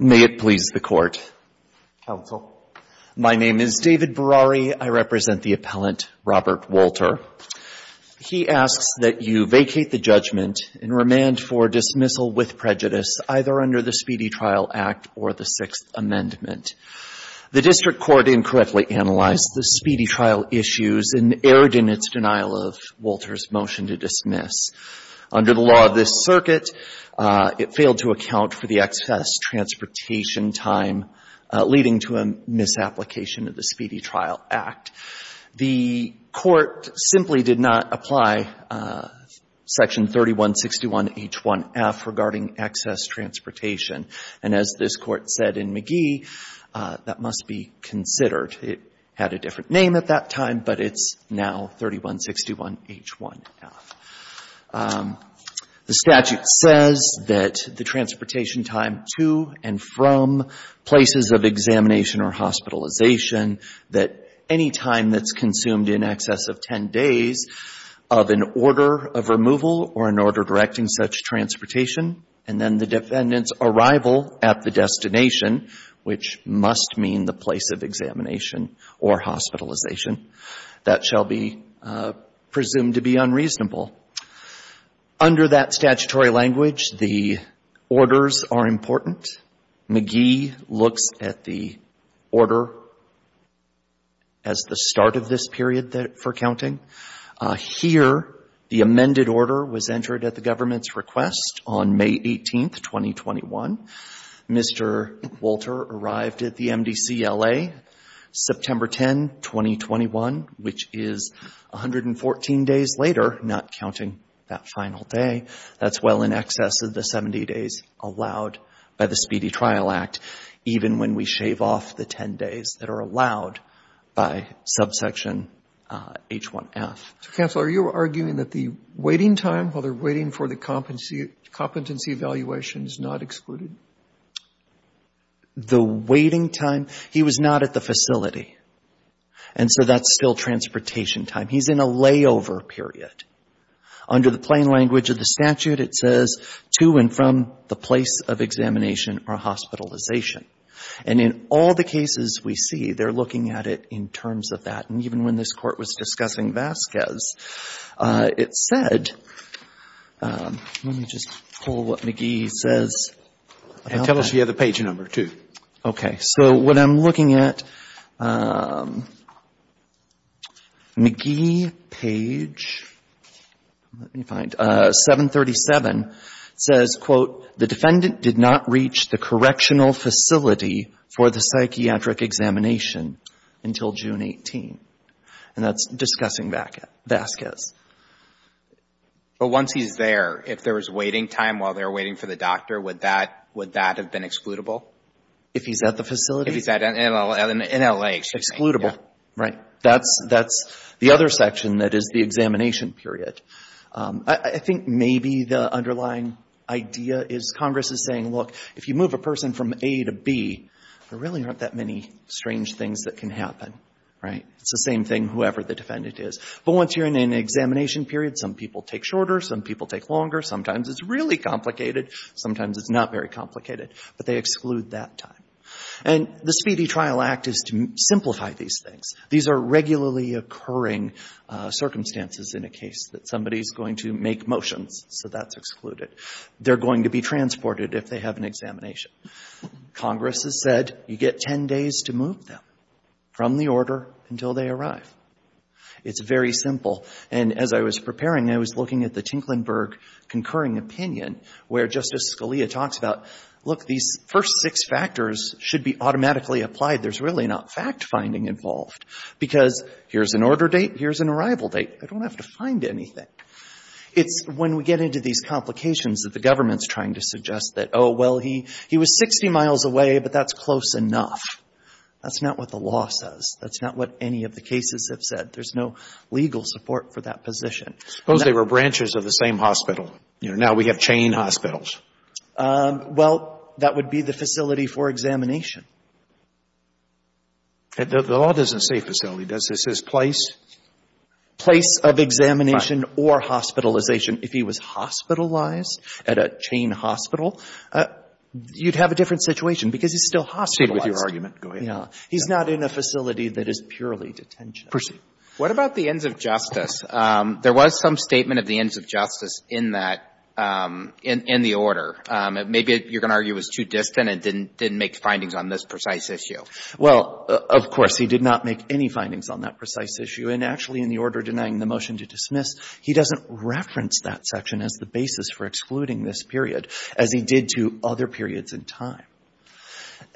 May it please the Court, Counsel, my name is David Berrari. I represent the appellant Robert Wolter. He asks that you vacate the judgment and remand for dismissal with prejudice either under the Speedy Trial Act or the Sixth Amendment. The district court incorrectly analyzed the Speedy Trial issues and erred in its denial of Wolter's motion to dismiss. Under the law of this circuit, it failed to account for the excess transportation time leading to a misapplication of the Speedy Trial Act. The Court simply did not apply Section 3161H1F regarding excess transportation. And as this Court said in McGee, that must be considered. It had a different name at that time, but it's now 3161H1F. The statute says that the transportation time to and from places of examination or hospitalization, that any time that's consumed in excess of ten days of an order of removal or an order directing such transportation, and then the defendant's arrival at the destination, which must mean the place of examination or hospitalization, that shall be presumed to be unreasonable. Under that statutory language, the orders are important. McGee looks at the order as the start of this period for counting. Here, the amended order was entered at the government's request on May 18th, 2021. Mr. Wolter arrived at the MDCLA September 10, 2021, which is 114 days later, not counting that final day. That's well in excess of the 70 days allowed by the Speedy Trial Act, even when we shave off the ten days that are allowed by Subsection H1F. So, Counselor, are you arguing that the waiting time while they're waiting for the competency evaluation is not excluded? The waiting time? He was not at the facility. And so that's still transportation time. He's in a layover period. Under the plain language of the statute, it says to and from the place of examination or hospitalization. And in all the cases we see, they're looking at it in terms of that. And even when this Court was discussing Vasquez, it said — let me just pull what McGee says about that. And tell us the other page number, too. Okay. So what I'm looking at, McGee page, let me find, 737, says, quote, the defendant did not reach the correctional facility for the psychiatric examination until June 18. And that's discussing Vasquez. But once he's there, if there was waiting time while they're waiting for the doctor, would that have been excludable? If he's at the facility? If he's in L.A. Excludable. Right. That's the other section that is the examination period. I think maybe the underlying idea is Congress is saying, look, if you move a person from A to B, there really aren't that many strange things that can happen, right? It's the same thing whoever the defendant is. But once you're in an examination period, some people take shorter, some people take longer, sometimes it's really complicated, sometimes it's not very complicated. But they exclude that time. And the Speedy Trial Act is to simplify these things. These are regularly occurring circumstances in a case that somebody is going to make motions, so that's excluded. They're going to be transported if they have an examination. Congress has said you get 10 days to move them from the order until they arrive. It's very simple. And as I was preparing, I was looking at the Tinklenburg concurring opinion where Justice Scalia talks about, look, these first six factors should be automatically applied. There's really not fact-finding involved. Because here's an order date, here's an arrival date. I don't have to find anything. It's when we get into these complications that the government is trying to suggest that, oh, well, he was 60 miles away, but that's close enough. That's not what the law says. That's not what any of the cases have said. There's no legal support for that position. Suppose they were branches of the same hospital. Now we have chain hospitals. Well, that would be the facility for examination. The law doesn't say facility. It says place. Place of examination or hospitalization. If he was hospitalized at a chain hospital, you'd have a different situation, because he's still hospitalized. Go ahead. He's not in a facility that is purely detention. Proceed. What about the ends of justice? There was some statement of the ends of justice in that, in the order. Maybe you're going to argue it was too distant and didn't make findings on this precise issue. Well, of course, he did not make any findings on that precise issue. And actually, in the order denying the motion to dismiss, he doesn't reference that section as the basis for excluding this period as he did to other periods in time.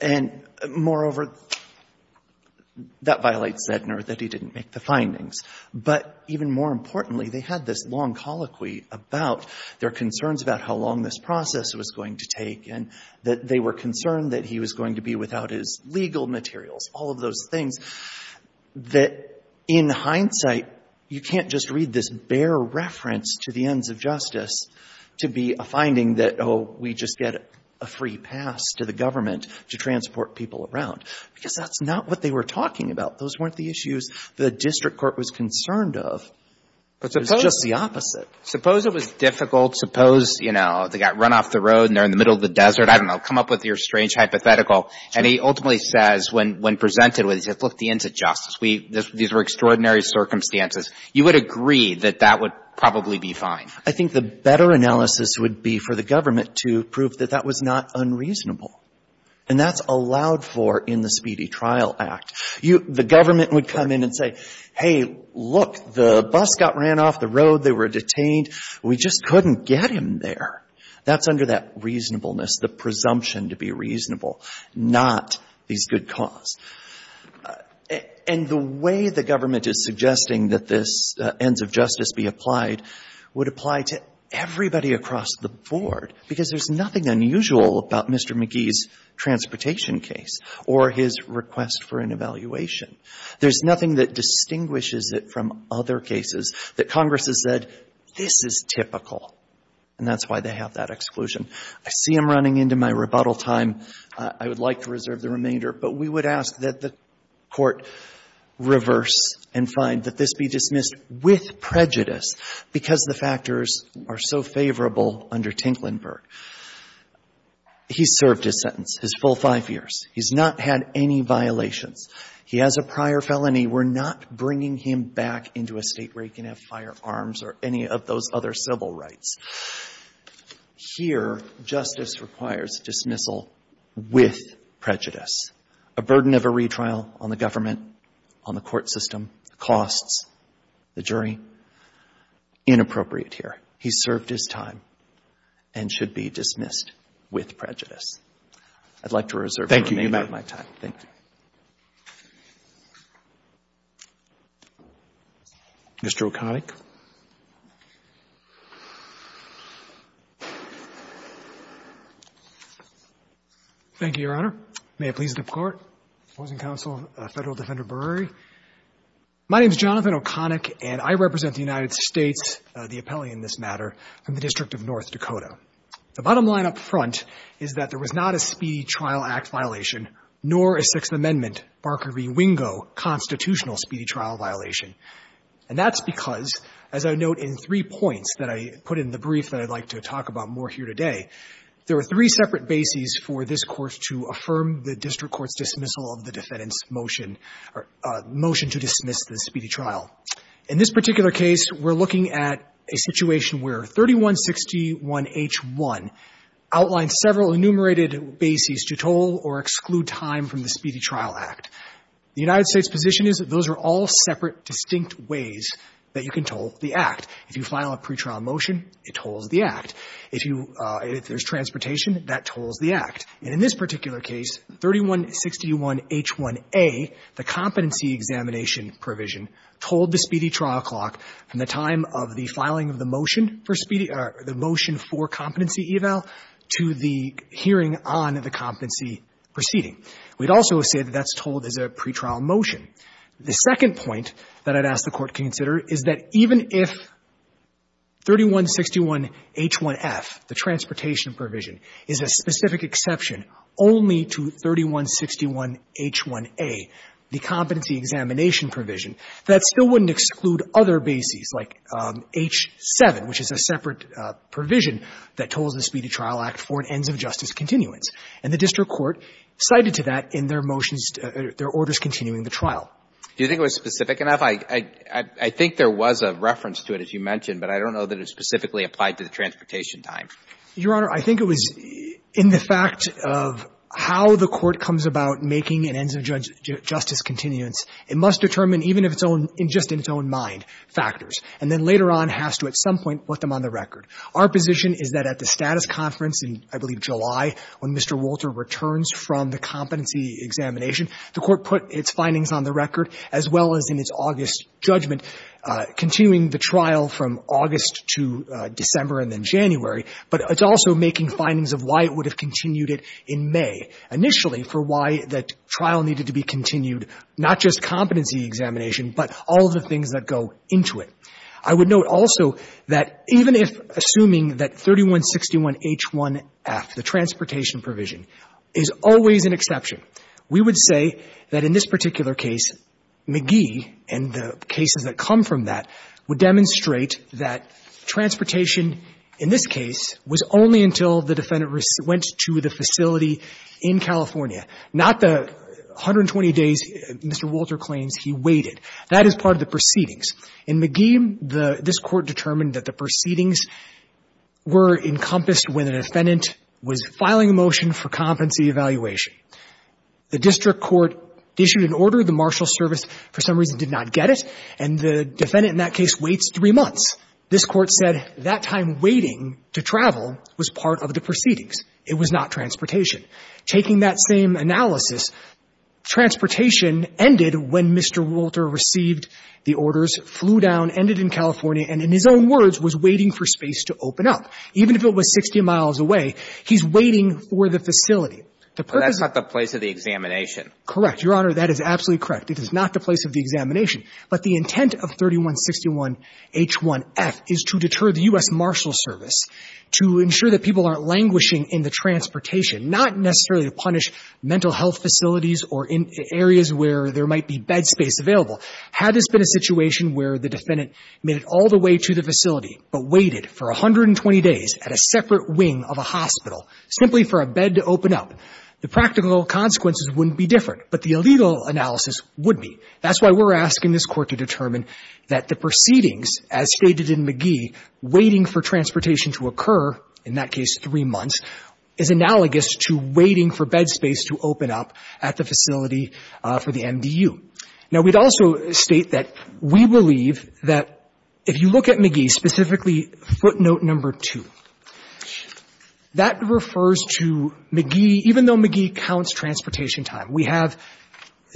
And moreover, that violates Zegner that he didn't make the findings. But even more importantly, they had this long colloquy about their concerns about how long this process was going to take, and that they were concerned that he was going to be without his legal materials, all of those things, that in hindsight, you can't just read this bare reference to the ends of justice to be a finding that, oh, we just get a free pass to the government to transport people around. Because that's not what they were talking about. Those weren't the issues the district court was concerned of. It was just the opposite. Suppose it was difficult. Suppose, you know, they got run off the road and they're in the middle of the desert. I don't know. Come up with your strange hypothetical. And he ultimately says, when presented with it, look, the ends of justice. These were extraordinary circumstances. You would agree that that would probably be fine. I think the better analysis would be for the government to prove that that was not unreasonable. And that's allowed for in the Speedy Trial Act. The government would come in and say, hey, look, the bus got ran off the road. They were detained. We just couldn't get him there. That's under that reasonableness, the presumption to be reasonable, not these good cause. And the way the government is suggesting that this ends of justice be applied would apply to everybody across the board. Because there's nothing unusual about Mr. McGee's transportation case or his request for an evaluation. There's nothing that distinguishes it from other cases that Congress has said, this is typical. And that's why they have that exclusion. I see I'm running into my rebuttal time. I would like to reserve the remainder. But we would ask that the Court reverse and find that this be dismissed with prejudice because the factors are so favorable under Tinklenburg. He served his sentence, his full five years. He's not had any violations. He has a prior felony. We're not bringing him back into a State where he can have firearms or any of those other civil rights. Here, justice requires dismissal with prejudice. A burden of a retrial on the government, on the court system, costs, the jury, inappropriate here. He served his time and should be dismissed with prejudice. I'd like to reserve the remainder of my time. Thank you. Roberts. Mr. O'Connick. Thank you, Your Honor. May it please the Court. Opposing counsel, Federal Defender Brewery. My name is Jonathan O'Connick, and I represent the United States, the appellee in this matter, from the District of North Dakota. The bottom line up front is that there was not a Speedy Trial Act violation, nor a Sixth Amendment, Barker v. Wingo, constitutional Speedy Trial violation. And that's because, as I note in three points that I put in the brief that I'd like to talk about more here today, there are three separate bases for this Court to affirm the district court's dismissal of the defendant's motion or motion to dismiss the Speedy Trial. In this particular case, we're looking at a situation where 3161H1 outlines several enumerated bases to toll or exclude time from the Speedy Trial Act. The United States' position is that those are all separate, distinct ways that you can toll the Act. If you file a pretrial motion, it tolls the Act. If you – if there's transportation, that tolls the Act. And in this particular case, 3161H1a, the competency examination provision, tolled the Speedy Trial Clock from the time of the filing of the motion for Speedy – or the motion for competency eval to the hearing on the competency proceeding. We'd also say that that's tolled as a pretrial motion. The second point that I'd ask the Court to consider is that even if 3161H1f, the transportation provision, is a specific exception only to 3161H1a, the competency examination provision, that still wouldn't exclude other bases like H7, which is a separate provision that tolls the Speedy Trial Act for an ends-of-justice continuance. And the district court cited to that in their motions – their orders continuing the trial. Do you think it was specific enough? I think there was a reference to it, as you mentioned, but I don't know that it specifically applied to the transportation time. Your Honor, I think it was in the fact of how the Court comes about making an ends-of-justice continuance. It must determine, even if it's own – just in its own mind – factors, and then later on has to, at some point, put them on the record. Our position is that at the status conference in, I believe, July, when Mr. Wolter returns from the competency examination, the Court put its findings on the record, as well as in its August judgment, continuing the trial from August to December and then January, but it's also making findings of why it would have continued it in May, initially, for why that trial needed to be continued, not just competency examination, but all of the things that go into it. I would note also that even if – assuming that 3161H1F, the transportation provision, is always an exception, we would say that in this particular case, McGee and the cases that come from that would demonstrate that transportation in this case was only until the defendant went to the facility in California, not the 120 days Mr. Wolter claims he waited. That is part of the proceedings. In McGee, the – this Court determined that the proceedings were encompassed when the defendant was filing a motion for competency evaluation. The district court issued an order. The marshal service, for some reason, did not get it, and the defendant in that case waits three months. This Court said that time waiting to travel was part of the proceedings. It was not transportation. Taking that same analysis, transportation ended when Mr. Wolter received the orders, flew down, ended in California, and in his own words, was waiting for space to open up. Even if it was 60 miles away, he's waiting for the facility. The purpose of the place of the examination. Correct. Your Honor, that is absolutely correct. It is not the place of the examination. But the intent of 3161H1F is to deter the U.S. Marshal Service to ensure that people aren't languishing in the transportation, not necessarily to punish mental health facilities or in areas where there might be bed space available. Had this been a situation where the defendant made it all the way to the facility but waited for 120 days at a separate wing of a hospital simply for a bed to open up, the practical consequences wouldn't be different, but the legal analysis would be. That's why we're asking this Court to determine that the proceedings, as stated in McGee, waiting for transportation to occur, in that case three months, is analogous to waiting for bed space to open up at the facility for the MDU. Now, we'd also state that we believe that if you look at McGee, specifically footnote number 2, that refers to McGee, even though McGee counts transportation time. We have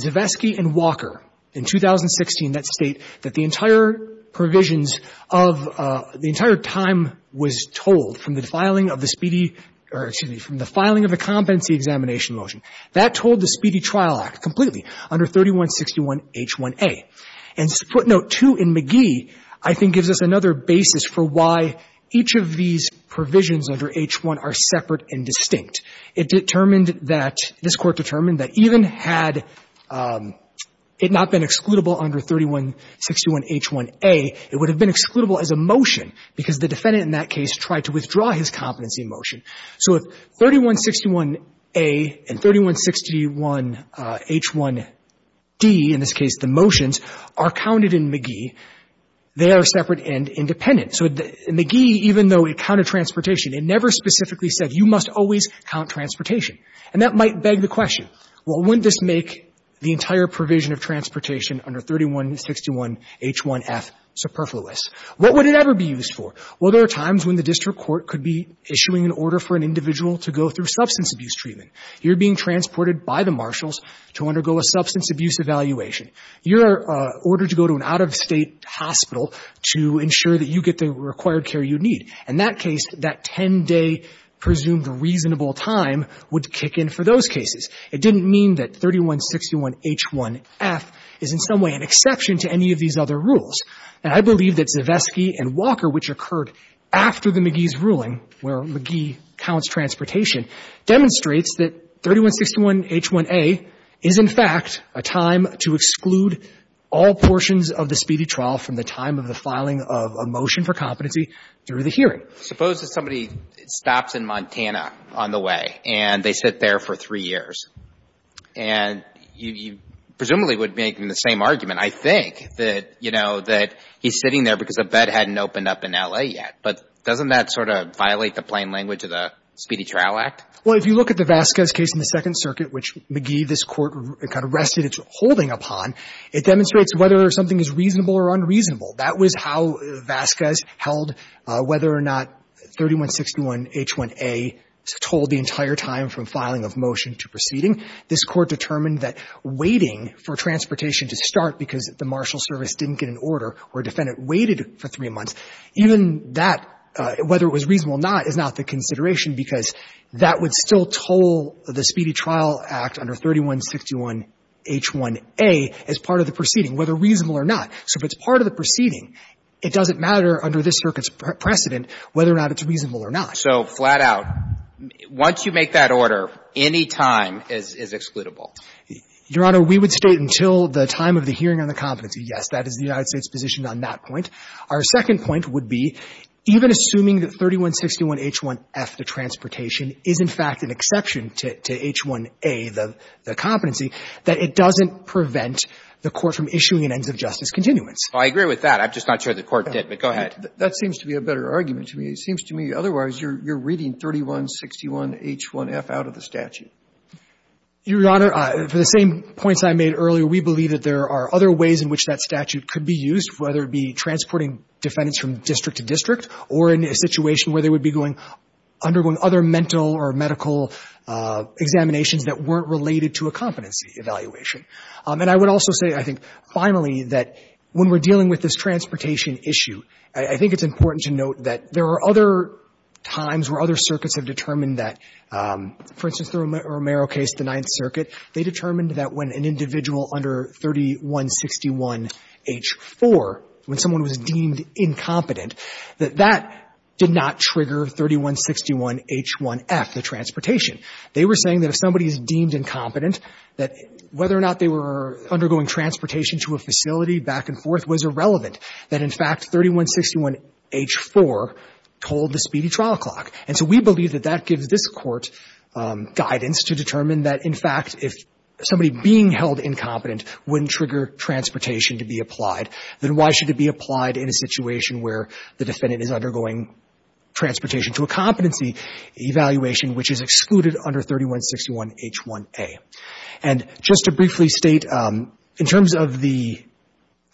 Zivesky and Walker in 2016 that state that the entire provisions of the entire time was told from the filing of the speedy or, excuse me, from the filing of the competency examination motion. That told the Speedy Trial Act completely under 3161H1A. And footnote 2 in McGee, I think, gives us another basis for why each of these provisions under H1 are separate and distinct. It determined that, this Court determined that even had it not been excludable under 3161H1A, it would have been excludable as a motion because the defendant in that case tried to withdraw his competency motion. So if 3161A and 3161H1D, in this case the motions, are counted in McGee, they are separate and independent. So McGee, even though it counted transportation, it never specifically said you must always count transportation. And that might beg the question, well, wouldn't this make the entire provision of transportation under 3161H1F superfluous? What would it ever be used for? Well, there are times when the district court could be issuing an order for an individual to go through substance abuse treatment. You're being transported by the marshals to undergo a substance abuse evaluation. You're ordered to go to an out-of-state hospital to ensure that you get the required care you need. In that case, that 10-day presumed reasonable time would kick in for those cases. It didn't mean that 3161H1F is in some way an exception to any of these other rules. And I believe that Zivesky and Walker, which occurred after the McGee's case, believe that 3161H1A is, in fact, a time to exclude all portions of the speedy trial from the time of the filing of a motion for competency through the hearing. Suppose that somebody stops in Montana on the way and they sit there for three years. And you presumably would make the same argument, I think, that, you know, that he's sitting there because a bed hadn't opened up in L.A. yet. But doesn't that sort of violate the plain language of the Speedy Trial Act? Well, if you look at the Vasquez case in the Second Circuit, which McGee, this Court, kind of rested its holding upon, it demonstrates whether something is reasonable or unreasonable. That was how Vasquez held whether or not 3161H1A was told the entire time from filing of motion to proceeding. This Court determined that waiting for transportation to start because the marshal service didn't get an order or a defendant waited for three months, even that, whether it was reasonable or not, is not the consideration because that would still toll the Speedy Trial Act under 3161H1A as part of the proceeding, whether reasonable or not. So if it's part of the proceeding, it doesn't matter under this Circuit's precedent whether or not it's reasonable or not. So flat out, once you make that order, any time is excludable? Your Honor, we would state until the time of the hearing on the competency, yes, that is the United States' position on that point. Our second point would be, even assuming that 3161H1F, the transportation, is, in fact, an exception to H1A, the competency, that it doesn't prevent the Court from issuing an ends-of-justice continuance. Well, I agree with that. I'm just not sure the Court did, but go ahead. That seems to be a better argument to me. It seems to me otherwise you're reading 3161H1F out of the statute. Your Honor, for the same points I made earlier, we believe that there are other ways in which that statute could be used, whether it be transporting defendants from district to district or in a situation where they would be going undergoing other mental or medical examinations that weren't related to a competency evaluation. And I would also say, I think, finally, that when we're dealing with this transportation issue, I think it's important to note that there are other times where other circuits have determined that, for instance, the Romero case, the Ninth Circuit, they determined that when an individual under 3161H4, when someone was deemed incompetent, that that did not trigger 3161H1F, the transportation. They were saying that if somebody is deemed incompetent, that whether or not they were undergoing transportation to a facility back and forth was irrelevant, that, in fact, 3161H4 told the speedy trial clock. And so we believe that that gives this Court guidance to determine that, in fact, if somebody being held incompetent wouldn't trigger transportation to be applied, then why should it be applied in a situation where the defendant is undergoing transportation to a competency evaluation which is excluded under 3161H1A. And just to briefly state, in terms of the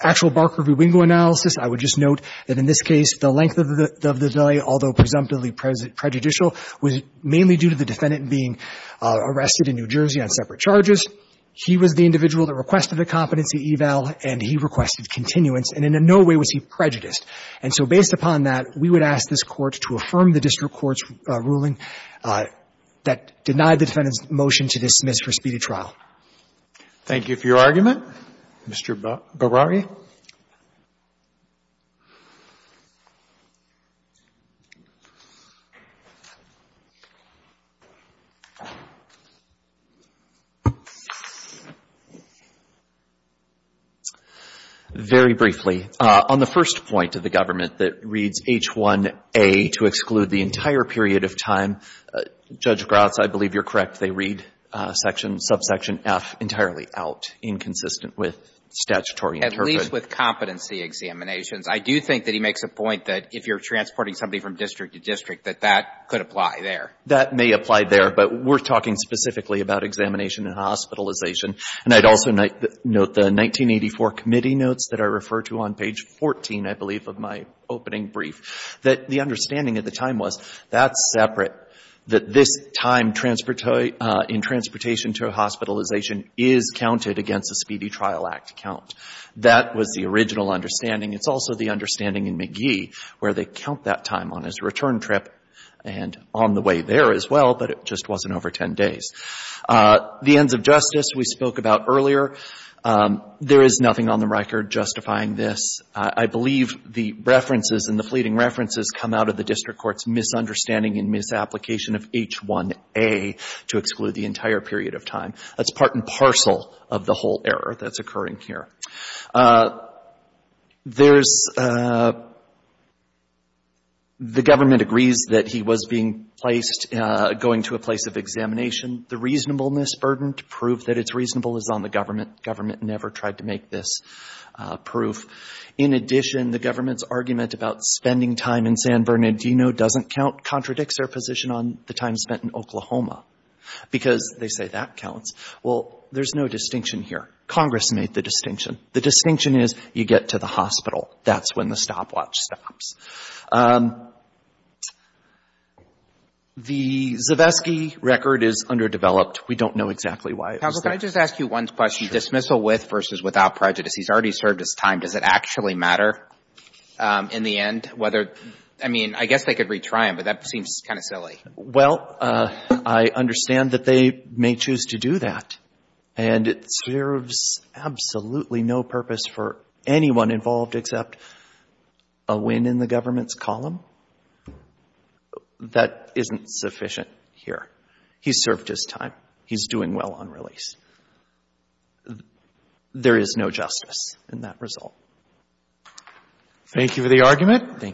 actual Barker v. Wingo analysis, I would just note that in this case, the length of the delay, although presumptively prejudicial, was mainly due to the defendant being arrested in New Jersey on separate charges. He was the individual that requested a competency eval, and he requested continuance, and in no way was he prejudiced. And so based upon that, we would ask this Court to affirm the district court's ruling that denied the defendant's motion to dismiss for speedy trial. Thank you for your argument, Mr. Beraghi. Very briefly, on the first point of the government that reads H1A to exclude the entire period of time, Judge Gratz, I believe you're correct, they read section — subsection F entirely out, inconsistent with statutory interpretation. I believe that's correct. I believe that's correct. But at least with competency examinations, I do think that he makes a point that if you're transporting somebody from district to district, that that could apply there. That may apply there. But we're talking specifically about examination and hospitalization. And I'd also note the 1984 committee notes that I refer to on page 14, I believe, of my opening brief, that the understanding at the time was that's separate, that this time in transportation to a hospitalization is counted against a speedy trial act count. That was the original understanding. It's also the understanding in McGee where they count that time on his return trip and on the way there as well, but it just wasn't over 10 days. The ends of justice we spoke about earlier. There is nothing on the record justifying this. I believe the references and the fleeting references come out of the district court's misunderstanding and misapplication of H1A to exclude the entire period of time. That's part and parcel of the whole error that's occurring here. There's the government agrees that he was being placed, going to a place of examination. The reasonableness burden to prove that it's reasonable is on the government. The government never tried to make this proof. In addition, the government's argument about spending time in San Bernardino doesn't count, contradicts their position on the time spent in Oklahoma because they say that counts. Well, there's no distinction here. Congress made the distinction. The distinction is you get to the hospital. That's when the stopwatch stops. The Zavesky record is underdeveloped. We don't know exactly why it was there. Counsel, can I just ask you one question? Sure. Dismissal with versus without prejudice. He's already served his time. Does it actually matter in the end whether, I mean, I guess they could retry him, but that seems kind of silly. Well, I understand that they may choose to do that. And it serves absolutely no purpose for anyone involved except a win in the government's column. That isn't sufficient here. He served his time. He's doing well on release. There is no justice in that result. Thank you for the argument. Thank you.